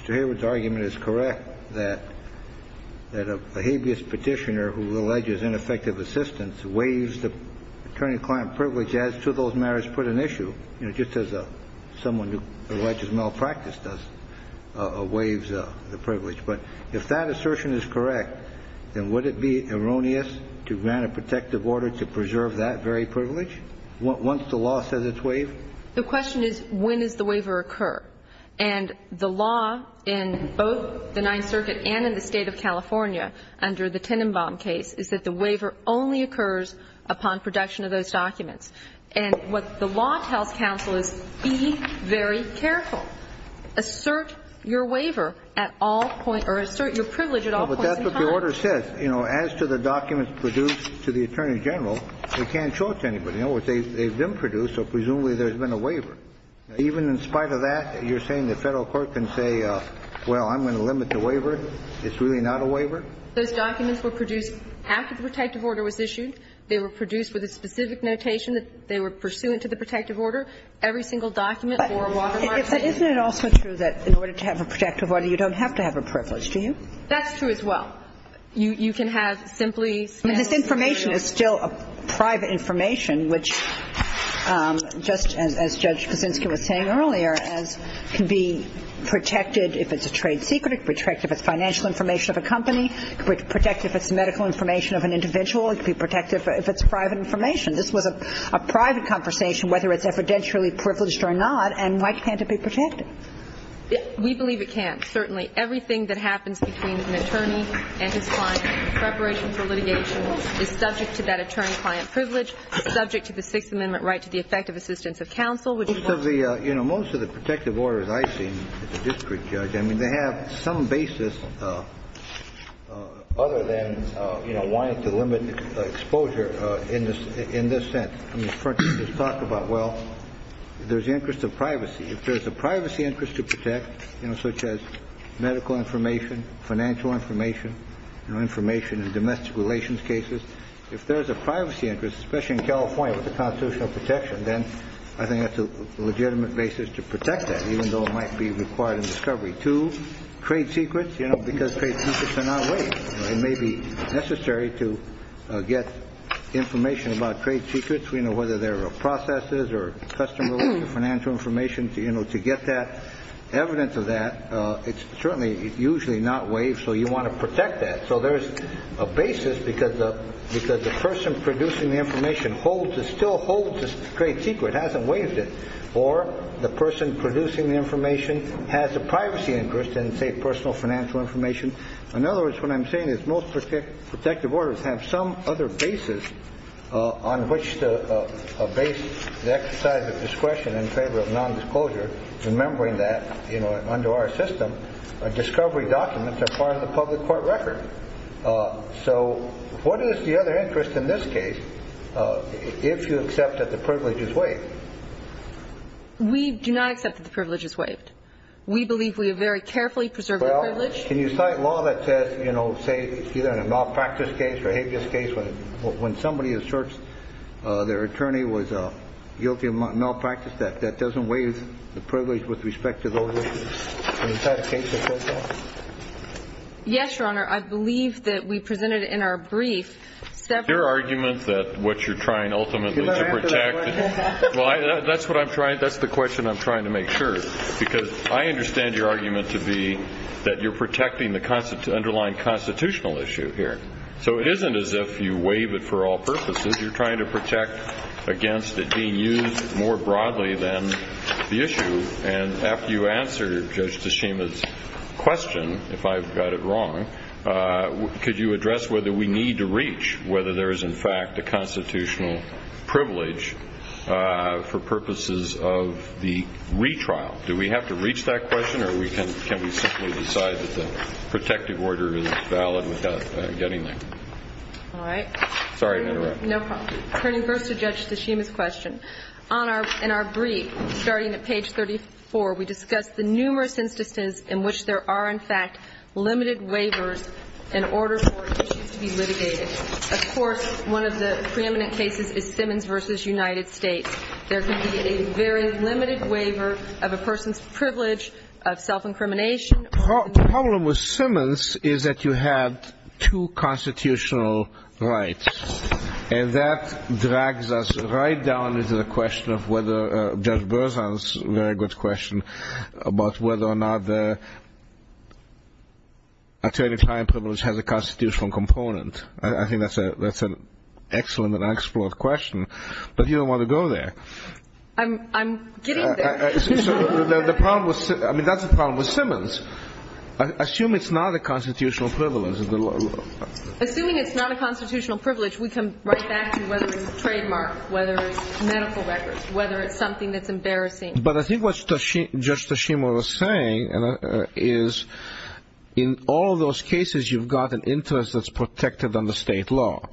Hayward's argument is correct that a habeas petitioner who alleges ineffective assistance waives the attorney-client privilege as to those matters put an issue, you know, just as someone who alleges malpractice does, waives the privilege. But if that assertion is correct, then would it be erroneous to grant a protective order to preserve that very privilege once the law says it's waived? The question is when does the waiver occur? And the law in both the Ninth Circuit and in the State of California under the Tenenbaum case is that the waiver only occurs upon production of those documents. And what the law tells counsel is be very careful. Assert your waiver at all point or assert your privilege at all points in time. But that's what the order says. You know, as to the documents produced to the Attorney General, we can't show it to anybody. In other words, they've been produced, so presumably there's been a waiver. Even in spite of that, you're saying the Federal court can say, well, I'm going to limit the waiver? It's really not a waiver? Those documents were produced after the protective order was issued. They were produced with a specific notation that they were pursuant to the protective order. Every single document for a watermark. Isn't it also true that in order to have a protective order, you don't have to have a privilege, do you? That's true as well. You can have simply, you know. I mean, this information is still private information, which, just as Judge Kuczynski was saying earlier, can be protected if it's a trade secret, protected if it's financial information of a company, protected if it's medical information of an individual, protected if it's private information. This was a private conversation, whether it's evidentially privileged or not, and why can't it be protected? We believe it can't. Certainly. Everything that happens between an attorney and his client in preparation for litigation is subject to that attorney-client privilege, subject to the Sixth Amendment right to the effective assistance of counsel, which is why. Most of the, you know, most of the protective orders I've seen as a district judge, I mean, they have some basis other than, you know, wanting to limit exposure in this sense. I mean, for instance, talk about, well, there's the interest of privacy. If there's a privacy interest to protect, you know, such as medical information, financial information, you know, information in domestic relations cases, if there's a privacy interest, especially in California with the constitutional protection, then I think that's a legitimate basis to protect that, even though it might be required in discovery. Two, trade secrets, you know, because trade secrets are not waived. It may be necessary to get information about trade secrets, you know, whether they're processes or customer financial information, you know, to get that evidence of that. It's certainly usually not waived, so you want to protect that. So there's a basis because the person producing the information still holds the trade secret, hasn't waived it. Or the person producing the information has a privacy interest in, say, personal financial information. In other words, what I'm saying is most protective orders have some other basis on which to base the exercise of discretion in favor of nondisclosure, remembering that, you know, under our system, discovery documents are part of the public court record. So what is the other interest in this case if you accept that the privilege is waived? We do not accept that the privilege is waived. We believe we have very carefully preserved the privilege. Well, can you cite law that says, you know, say either in a malpractice case or a habeas case, when somebody asserts their attorney was guilty of malpractice, that that doesn't waive the privilege with respect to those issues? Yes, Your Honor. I believe that we presented in our brief several... Your argument that what you're trying ultimately to protect... Well, that's what I'm trying, that's the question I'm trying to make sure. Because I understand your argument to be that you're protecting the underlying constitutional issue here. So it isn't as if you waive it for all purposes. You're trying to protect against it being used more broadly than the issue. And after you answer Judge Tashima's question, if I've got it wrong, could you address whether we need to reach whether there is in fact a constitutional privilege for purposes of the retrial? Do we have to reach that question, or can we simply decide that the protective order is valid without getting there? All right. Sorry to interrupt. No problem. Turning first to Judge Tashima's question, in our brief, starting at page 34, we discussed the numerous instances in which there are in fact limited waivers in order for issues to be litigated. Of course, one of the preeminent cases is Simmons v. United States. There can be a very limited waiver of a person's privilege of self-incrimination. The problem with Simmons is that you have two constitutional rights, and that drags us right down into the question of whether Judge Berzahn's very good question about whether or not the attorney-client privilege has a constitutional component. I think that's an excellent and excellent question, but you don't want to go there. I'm getting there. I mean, that's the problem with Simmons. Assume it's not a constitutional privilege. Assuming it's not a constitutional privilege, we come right back to whether it's a trademark, whether it's medical records, whether it's something that's embarrassing. But I think what Judge Tashima was saying is in all of those cases, you've got an interest that's protected under state law.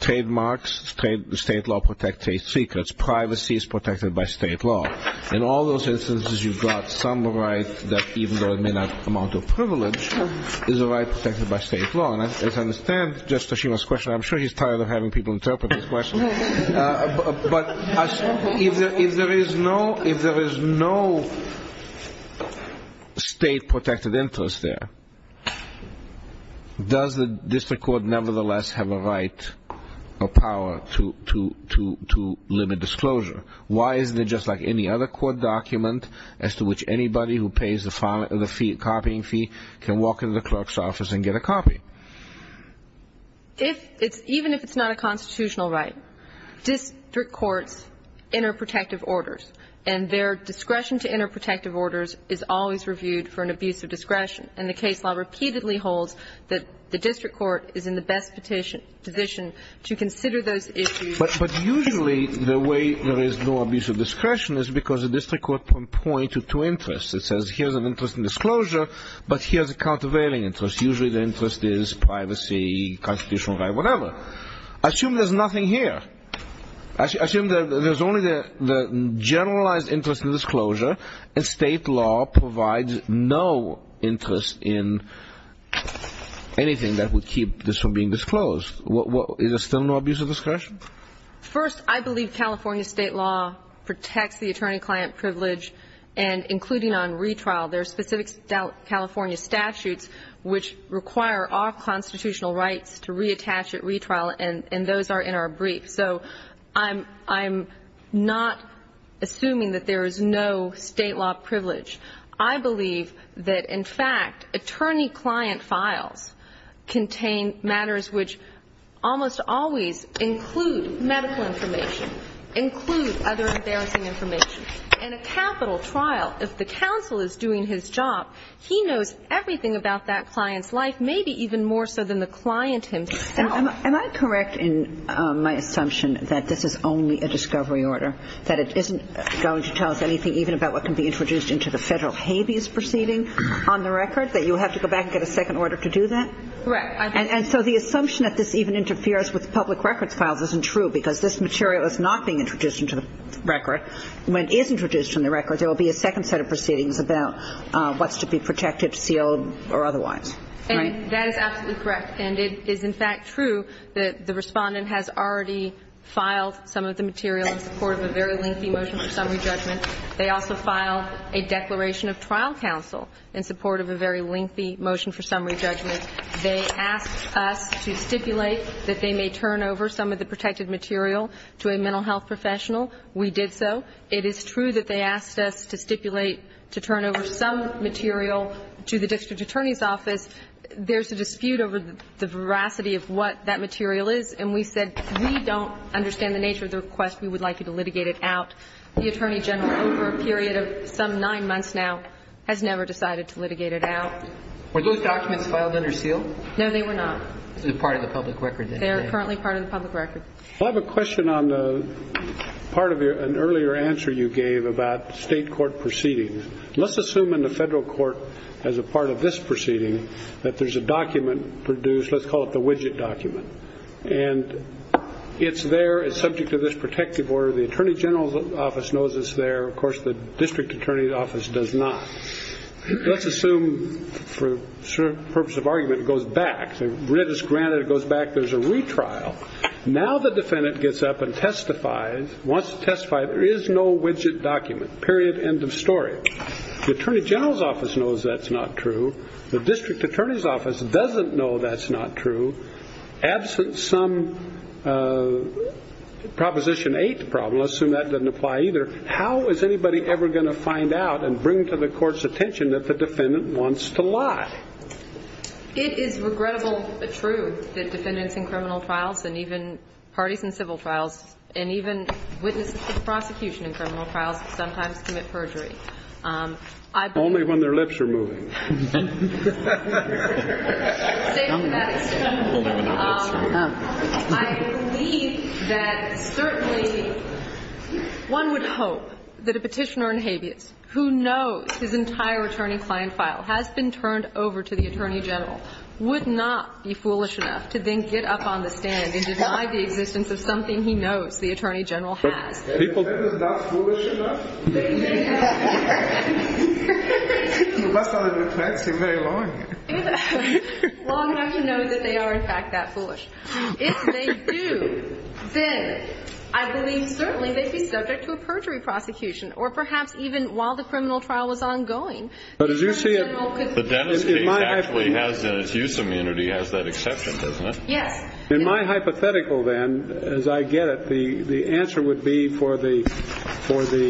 Trademarks, state law protects state secrets. Privacy is protected by state law. In all those instances, you've got some right that even though it may not amount to a privilege, is a right protected by state law. And as I understand Judge Tashima's question, I'm sure he's tired of having people interpret his question, but if there is no state protected interest there, does the district court nevertheless have a right or power to limit disclosure? Why isn't it just like any other court document as to which anybody who pays the copying fee can walk into the clerk's office and get a copy? Even if it's not a constitutional right, district courts enter protective orders, and their discretion to enter protective orders is always reviewed for an abuse of discretion. And the case law repeatedly holds that the district court is in the best position to consider those issues. But usually the way there is no abuse of discretion is because the district court points to two interests. It says here's an interest in disclosure, but here's a countervailing interest. Usually the interest is privacy, constitutional right, whatever. Assume there's nothing here. Assume that there's only the generalized interest in disclosure, and state law provides no interest in anything that would keep this from being disclosed. Is there still no abuse of discretion? First, I believe California state law protects the attorney-client privilege, and including on retrial, there are specific California statutes which require all constitutional rights to reattach at retrial, and those are in our brief. So I'm not assuming that there is no state law privilege. I believe that, in fact, attorney-client files contain matters which almost always include medical information, include other embarrassing information. In a capital trial, if the counsel is doing his job, he knows everything about that client's life, maybe even more so than the client himself. Am I correct in my assumption that this is only a discovery order, that it isn't going to tell us anything even about what can be introduced into the federal habeas proceeding on the record, that you have to go back and get a second order to do that? Correct. And so the assumption that this even interferes with public records files isn't true because this material is not being introduced into the record. When it is introduced into the record, there will be a second set of proceedings about what's to be protected, sealed, or otherwise. Right? And that is absolutely correct. And it is, in fact, true that the Respondent has already filed some of the material in support of a very lengthy motion for summary judgment. They also filed a declaration of trial counsel in support of a very lengthy motion for summary judgment. They asked us to stipulate that they may turn over some of the protected material to a mental health professional. We did so. It is true that they asked us to stipulate to turn over some material to the district attorney's office. There's a dispute over the veracity of what that material is, and we said we don't understand the nature of the request, we would like you to litigate it out. The Attorney General, over a period of some nine months now, has never decided to litigate it out. Were those documents filed under seal? No, they were not. They're part of the public record. They're currently part of the public record. I have a question on part of an earlier answer you gave about state court proceedings. Let's assume in the federal court, as a part of this proceeding, that there's a document produced. Let's call it the widget document. And it's there, it's subject to this protective order. The Attorney General's office knows it's there. Of course, the district attorney's office does not. Let's assume, for the purpose of argument, it goes back. Granted it goes back, there's a retrial. Now the defendant gets up and testifies, wants to testify, there is no widget document, period, end of story. The Attorney General's office knows that's not true. The district attorney's office doesn't know that's not true. Absent some Proposition 8 problem, let's assume that doesn't apply either, how is anybody ever going to find out and bring to the court's attention that the defendant wants to lie? It is regrettable but true that defendants in criminal trials and even parties in civil trials and even witnesses to the prosecution in criminal trials sometimes commit perjury. Only when their lips are moving. I believe that certainly one would hope that a petitioner in habeas who knows his entire attorney client file has been turned over to the Attorney General would not be foolish enough to then get up on the stand and deny the existence of something he knows the Attorney General has. That is not foolish enough? You must not have been fencing very long. Long enough to know that they are in fact that foolish. If they do, then I believe certainly they'd be subject to a perjury prosecution or perhaps even while the criminal trial was ongoing. But as you see it, in my hypothetical then, as I get it, the answer would be for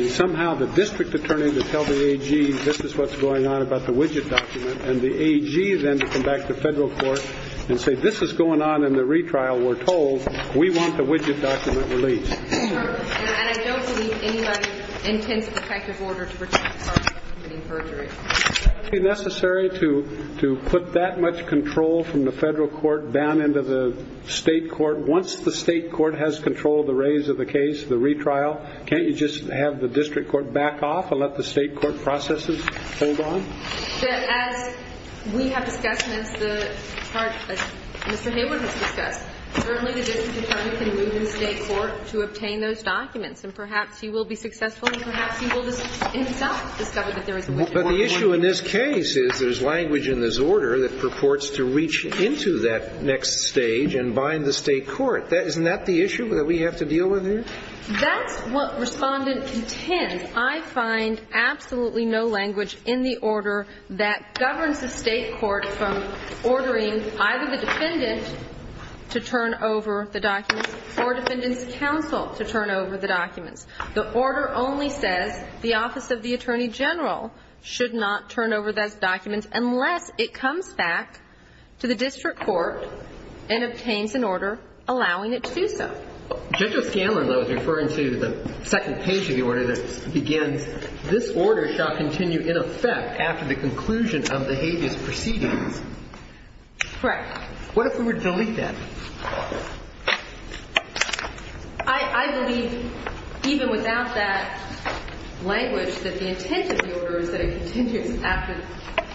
somehow the district attorney to tell the AG this is what's going on about the widget document and the AG then to come back to federal court and say this is going on in the retrial. We're told we want the widget document released. And I don't believe anybody intends to protect his order to protect the parties committing perjury. Is it necessary to put that much control from the federal court down into the state court? Once the state court has control of the raise of the case, the retrial, can't you just have the district court back off and let the state court processes hold on? As we have discussed and as Mr. Hayward has discussed, certainly the district attorney can move in state court to obtain those documents and perhaps he will be successful and perhaps he will himself discover that there is a widget document. But the issue in this case is there's language in this order that purports to reach into that next stage and bind the state court. Isn't that the issue that we have to deal with here? That's what Respondent contends. I find absolutely no language in the order that governs the state court from ordering either the defendant to turn over the documents or defendant's counsel to turn over the documents. The order only says the office of the attorney general should not turn over those documents unless it comes back to the district court and obtains an order allowing it to do so. Judge O'Scanlan, though, is referring to the second page of the order that begins, this order shall continue in effect after the conclusion of the habeas proceedings. Correct. What if we were to delete that? I believe even without that language that the intent of the order is that it continues after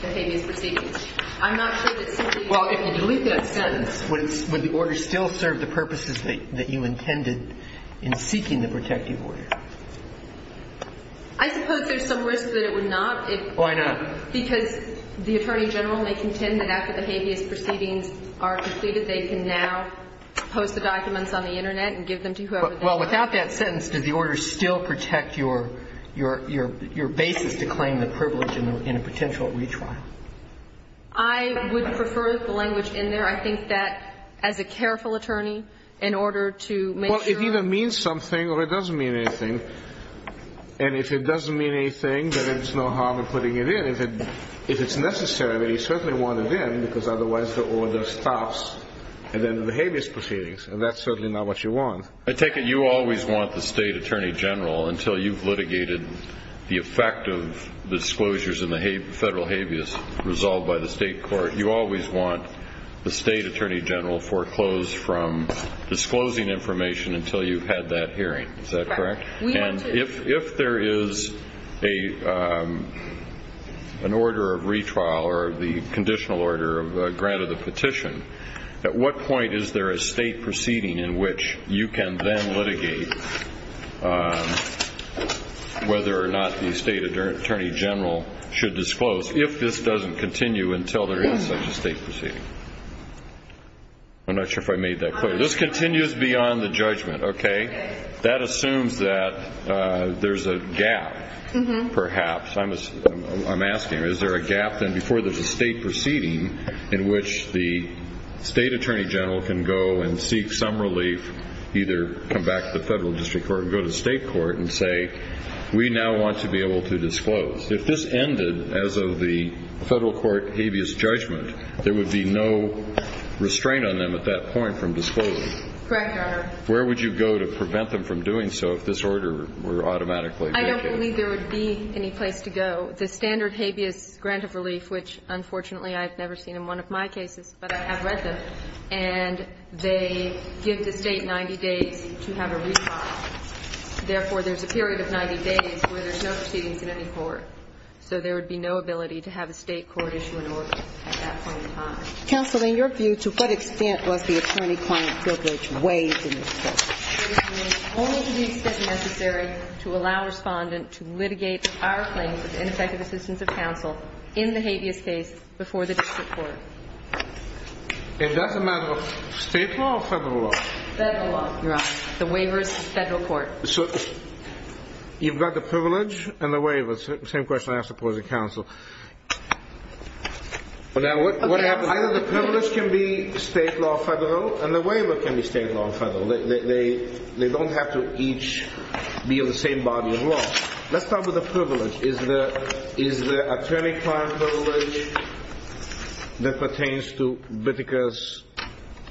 the habeas proceedings. I'm not sure that simply that we can delete that sentence. Would the order still serve the purposes that you intended in seeking the protective order? I suppose there's some risk that it would not. Why not? Because the attorney general may contend that after the habeas proceedings are completed, they can now post the documents on the Internet and give them to whoever they want. Well, without that sentence, does the order still protect your basis to claim the privilege in a potential retrial? I would prefer the language in there. I think that as a careful attorney, in order to make sure. Well, it either means something or it doesn't mean anything. And if it doesn't mean anything, then there's no harm in putting it in. If it's necessary, then you certainly want it in because otherwise the order stops at the end of the habeas proceedings, and that's certainly not what you want. I take it you always want the state attorney general until you've litigated the effect of disclosures in the federal habeas resolved by the state court. You always want the state attorney general foreclosed from disclosing information until you've had that hearing. Is that correct? Correct. We want to. And if there is an order of retrial or the conditional order of grant of the petition, at what point is there a state proceeding in which you can then litigate whether or not the state attorney general should disclose if this doesn't continue until there is such a state proceeding? I'm not sure if I made that clear. This continues beyond the judgment, okay? That assumes that there's a gap, perhaps. I'm asking, is there a gap then before there's a state proceeding in which the state attorney general can go and seek some relief, either come back to the federal district court or go to the state court and say, we now want to be able to disclose. If this ended as of the federal court habeas judgment, there would be no restraint on them at that point from disclosing. Correct, Your Honor. Where would you go to prevent them from doing so if this order were automatically I don't believe there would be any place to go. The standard habeas grant of relief, which, unfortunately, I've never seen in one of my cases, but I have read them, and they give the state 90 days to have a retrial. Therefore, there's a period of 90 days where there's no proceedings in any court. So there would be no ability to have a state court issue an order at that point in time. Counsel, in your view, to what extent was the attorney-client privilege way too excessive? Only to the extent necessary to allow a respondent to litigate our claims of ineffective assistance of counsel in the habeas case before the district court. Is that a matter of state law or federal law? Federal law, Your Honor. The waiver is to the federal court. So you've got the privilege and the waiver. It's the same question I ask the opposing counsel. Now, what happens? Either the privilege can be state law or federal, and the waiver can be state law or federal, and they don't have to each be in the same body of law. Let's start with the privilege. Is the attorney-client privilege that pertains to Whittaker's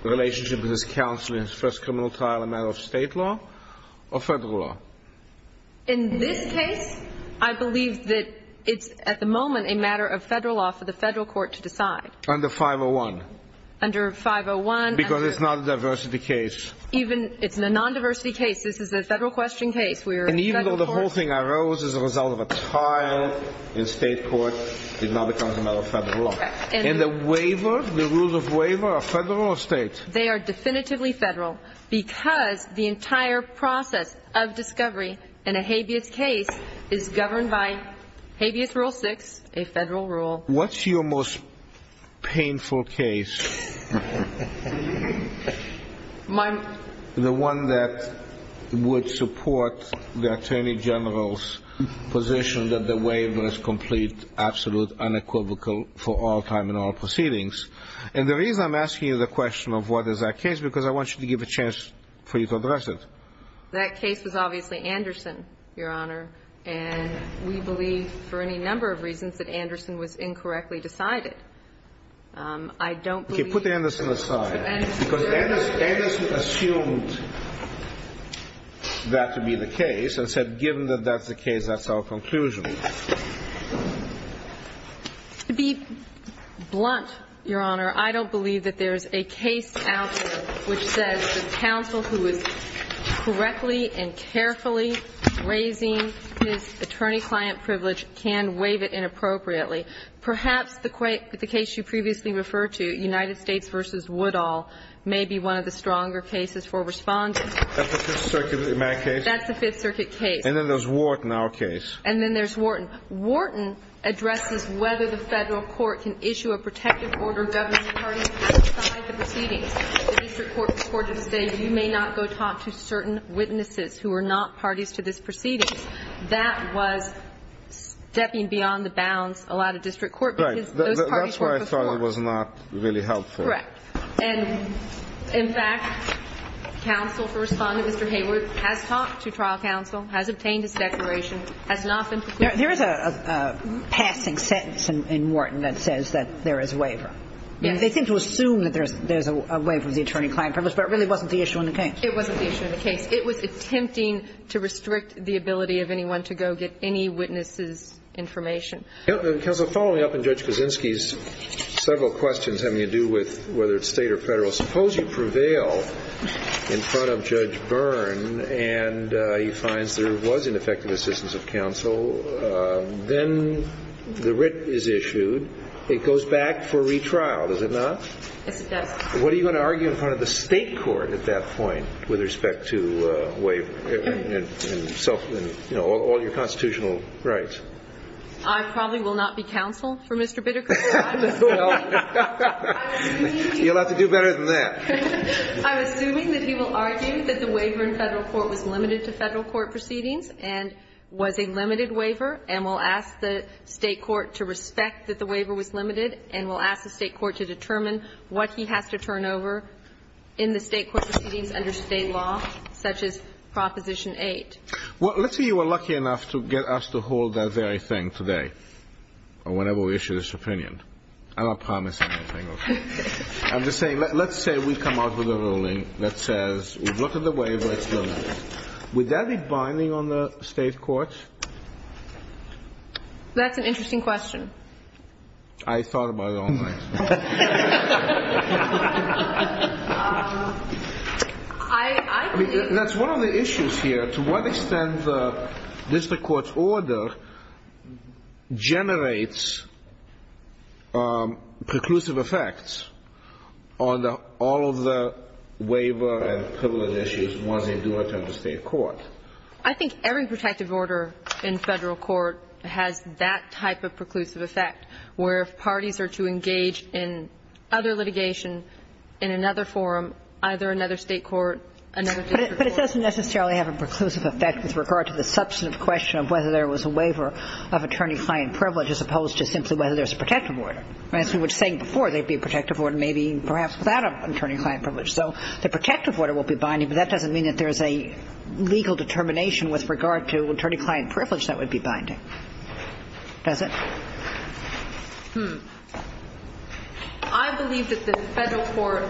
relationship with his counsel in his first criminal trial a matter of state law or federal law? In this case, I believe that it's, at the moment, a matter of federal law for the federal court to decide. Under 501. Under 501. Because it's not a diversity case. It's a non-diversity case. This is a federal question case. And even though the whole thing arose as a result of a trial in state court, it's not a matter of federal law. And the waiver, the rules of waiver, are federal or state? They are definitively federal because the entire process of discovery in a habeas case is governed by habeas rule six, a federal rule. What's your most painful case? The one that would support the attorney general's position that the waiver is complete, absolute, unequivocal for all time and all proceedings. And the reason I'm asking you the question of what is that case is because I want you to give a chance for you to address it. That case was obviously Anderson, Your Honor. And we believe, for any number of reasons, that Anderson was incorrectly decided. I don't believe he was. Okay. Put Anderson aside. Because Anderson assumed that to be the case and said, given that that's the case, that's our conclusion. To be blunt, Your Honor, I don't believe that there's a case out there which says the counsel who is correctly and carefully raising his attorney-client privilege can waive it inappropriately. Perhaps the case you previously referred to, United States v. Woodall, may be one of the stronger cases for responding. That's the Fifth Circuit case? That's the Fifth Circuit case. And then there's Wharton, our case. And then there's Wharton. Wharton addresses whether the federal court can issue a protective order governing parties to decide the proceedings. The district court reported to say you may not go talk to certain witnesses who are not parties to this proceedings. That was stepping beyond the bounds allowed of district court. Right. Because those parties worked before. That's why I thought it was not really helpful. Correct. And, in fact, counsel for responding, Mr. Hayworth, has talked to trial counsel, has obtained his declaration, has not been procured. There is a passing sentence in Wharton that says that there is a waiver. Yes. They seem to assume that there's a waiver of the attorney-client privilege, but it really wasn't the issue in the case. It wasn't the issue in the case. It was attempting to restrict the ability of anyone to go get any witnesses' information. Counsel, following up on Judge Kaczynski's several questions having to do with whether it's State or Federal, suppose you prevail in front of Judge Byrne and he finds there was ineffective assistance of counsel. Then the writ is issued. It goes back for retrial, does it not? Yes, it does. What are you going to argue in front of the State court at that point with respect to waiver and self and, you know, all your constitutional rights? I probably will not be counsel for Mr. Bittercourt. You'll have to do better than that. I'm assuming that he will argue that the waiver in Federal court was limited to Federal court proceedings and was a limited waiver, and will ask the State court to respect that the waiver was limited and will ask the State court to determine what he has to turn over in the State court proceedings under State law, such as Proposition 8. Well, let's say you were lucky enough to get us to hold that very thing today, or whenever we issue this opinion. I'm not promising anything, okay? I'm just saying let's say we come out with a ruling that says we've looked at the waiver, it's limited. Would that be binding on the State court? That's an interesting question. I thought about it all night. I mean, that's one of the issues here. To what extent does the court's order generate preclusive effects on all of the waiver and privilege issues once they do return to State court? I think every protective order in Federal court has that type of preclusive effect, where if parties are to engage in other litigation in another forum, either another State court, another Federal court. But it doesn't necessarily have a preclusive effect with regard to the substantive question of whether there was a waiver of attorney-client privilege as opposed to simply whether there's a protective order. As we were saying before, there would be a protective order maybe perhaps without an attorney-client privilege. So the protective order will be binding, but that doesn't mean that there's a legal determination with regard to attorney-client privilege that would be binding. Does it? I believe that the Federal court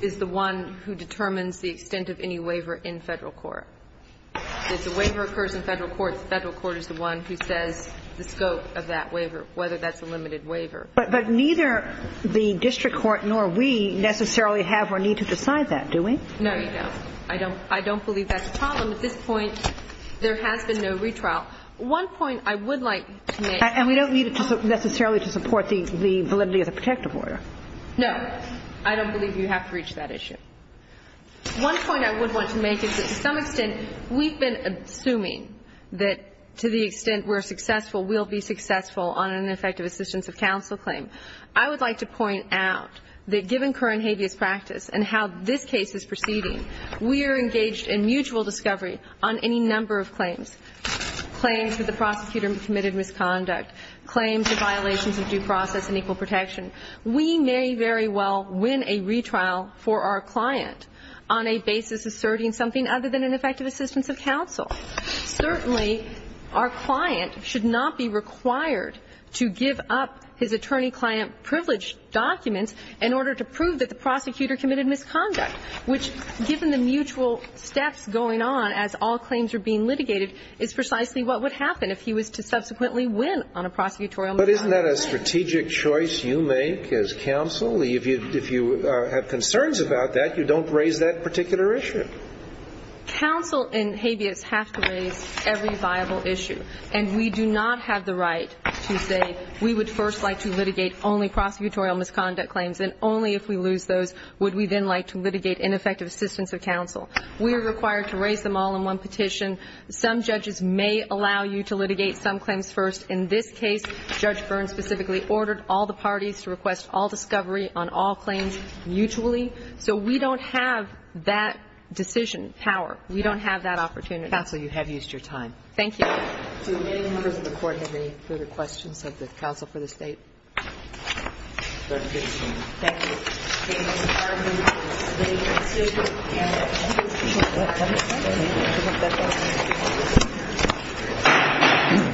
is the one who determines the extent of any waiver in Federal court. If the waiver occurs in Federal court, the Federal court is the one who says the scope of that waiver, whether that's a limited waiver. But neither the district court nor we necessarily have or need to decide that, do we? No, you don't. I don't believe that's a problem. At this point, there has been no retrial. One point I would like to make. And we don't need it necessarily to support the validity of the protective order. No. I don't believe you have to reach that issue. One point I would want to make is that to some extent we've been assuming that to the extent we're successful, we'll be successful on an effective assistance of counsel claim. I would like to point out that given current habeas practice and how this case is proceeding, we are engaged in mutual discovery on any number of claims, claims that the prosecutor committed misconduct, claims of violations of due process and equal protection. We may very well win a retrial for our client on a basis asserting something other than an effective assistance of counsel. Certainly, our client should not be required to give up his attorney-client privilege documents in order to prove that the prosecutor committed misconduct, which, given the mutual steps going on as all claims are being litigated, is precisely what would happen if he was to subsequently win on a prosecutorial matter. But isn't that a strategic choice you make as counsel? If you have concerns about that, you don't raise that particular issue. Counsel in habeas have to raise every viable issue, and we do not have the right to say we would first like to litigate only prosecutorial misconduct claims, and only if we lose those would we then like to litigate ineffective assistance of counsel. We are required to raise them all in one petition. Some judges may allow you to litigate some claims first. In this case, Judge Byrne specifically ordered all the parties to request all discovery on all claims mutually. So we don't have that decision power. We don't have that opportunity. Counsel, you have used your time. Thank you. Do any members of the Court have any further questions of the counsel for this date? Thank you.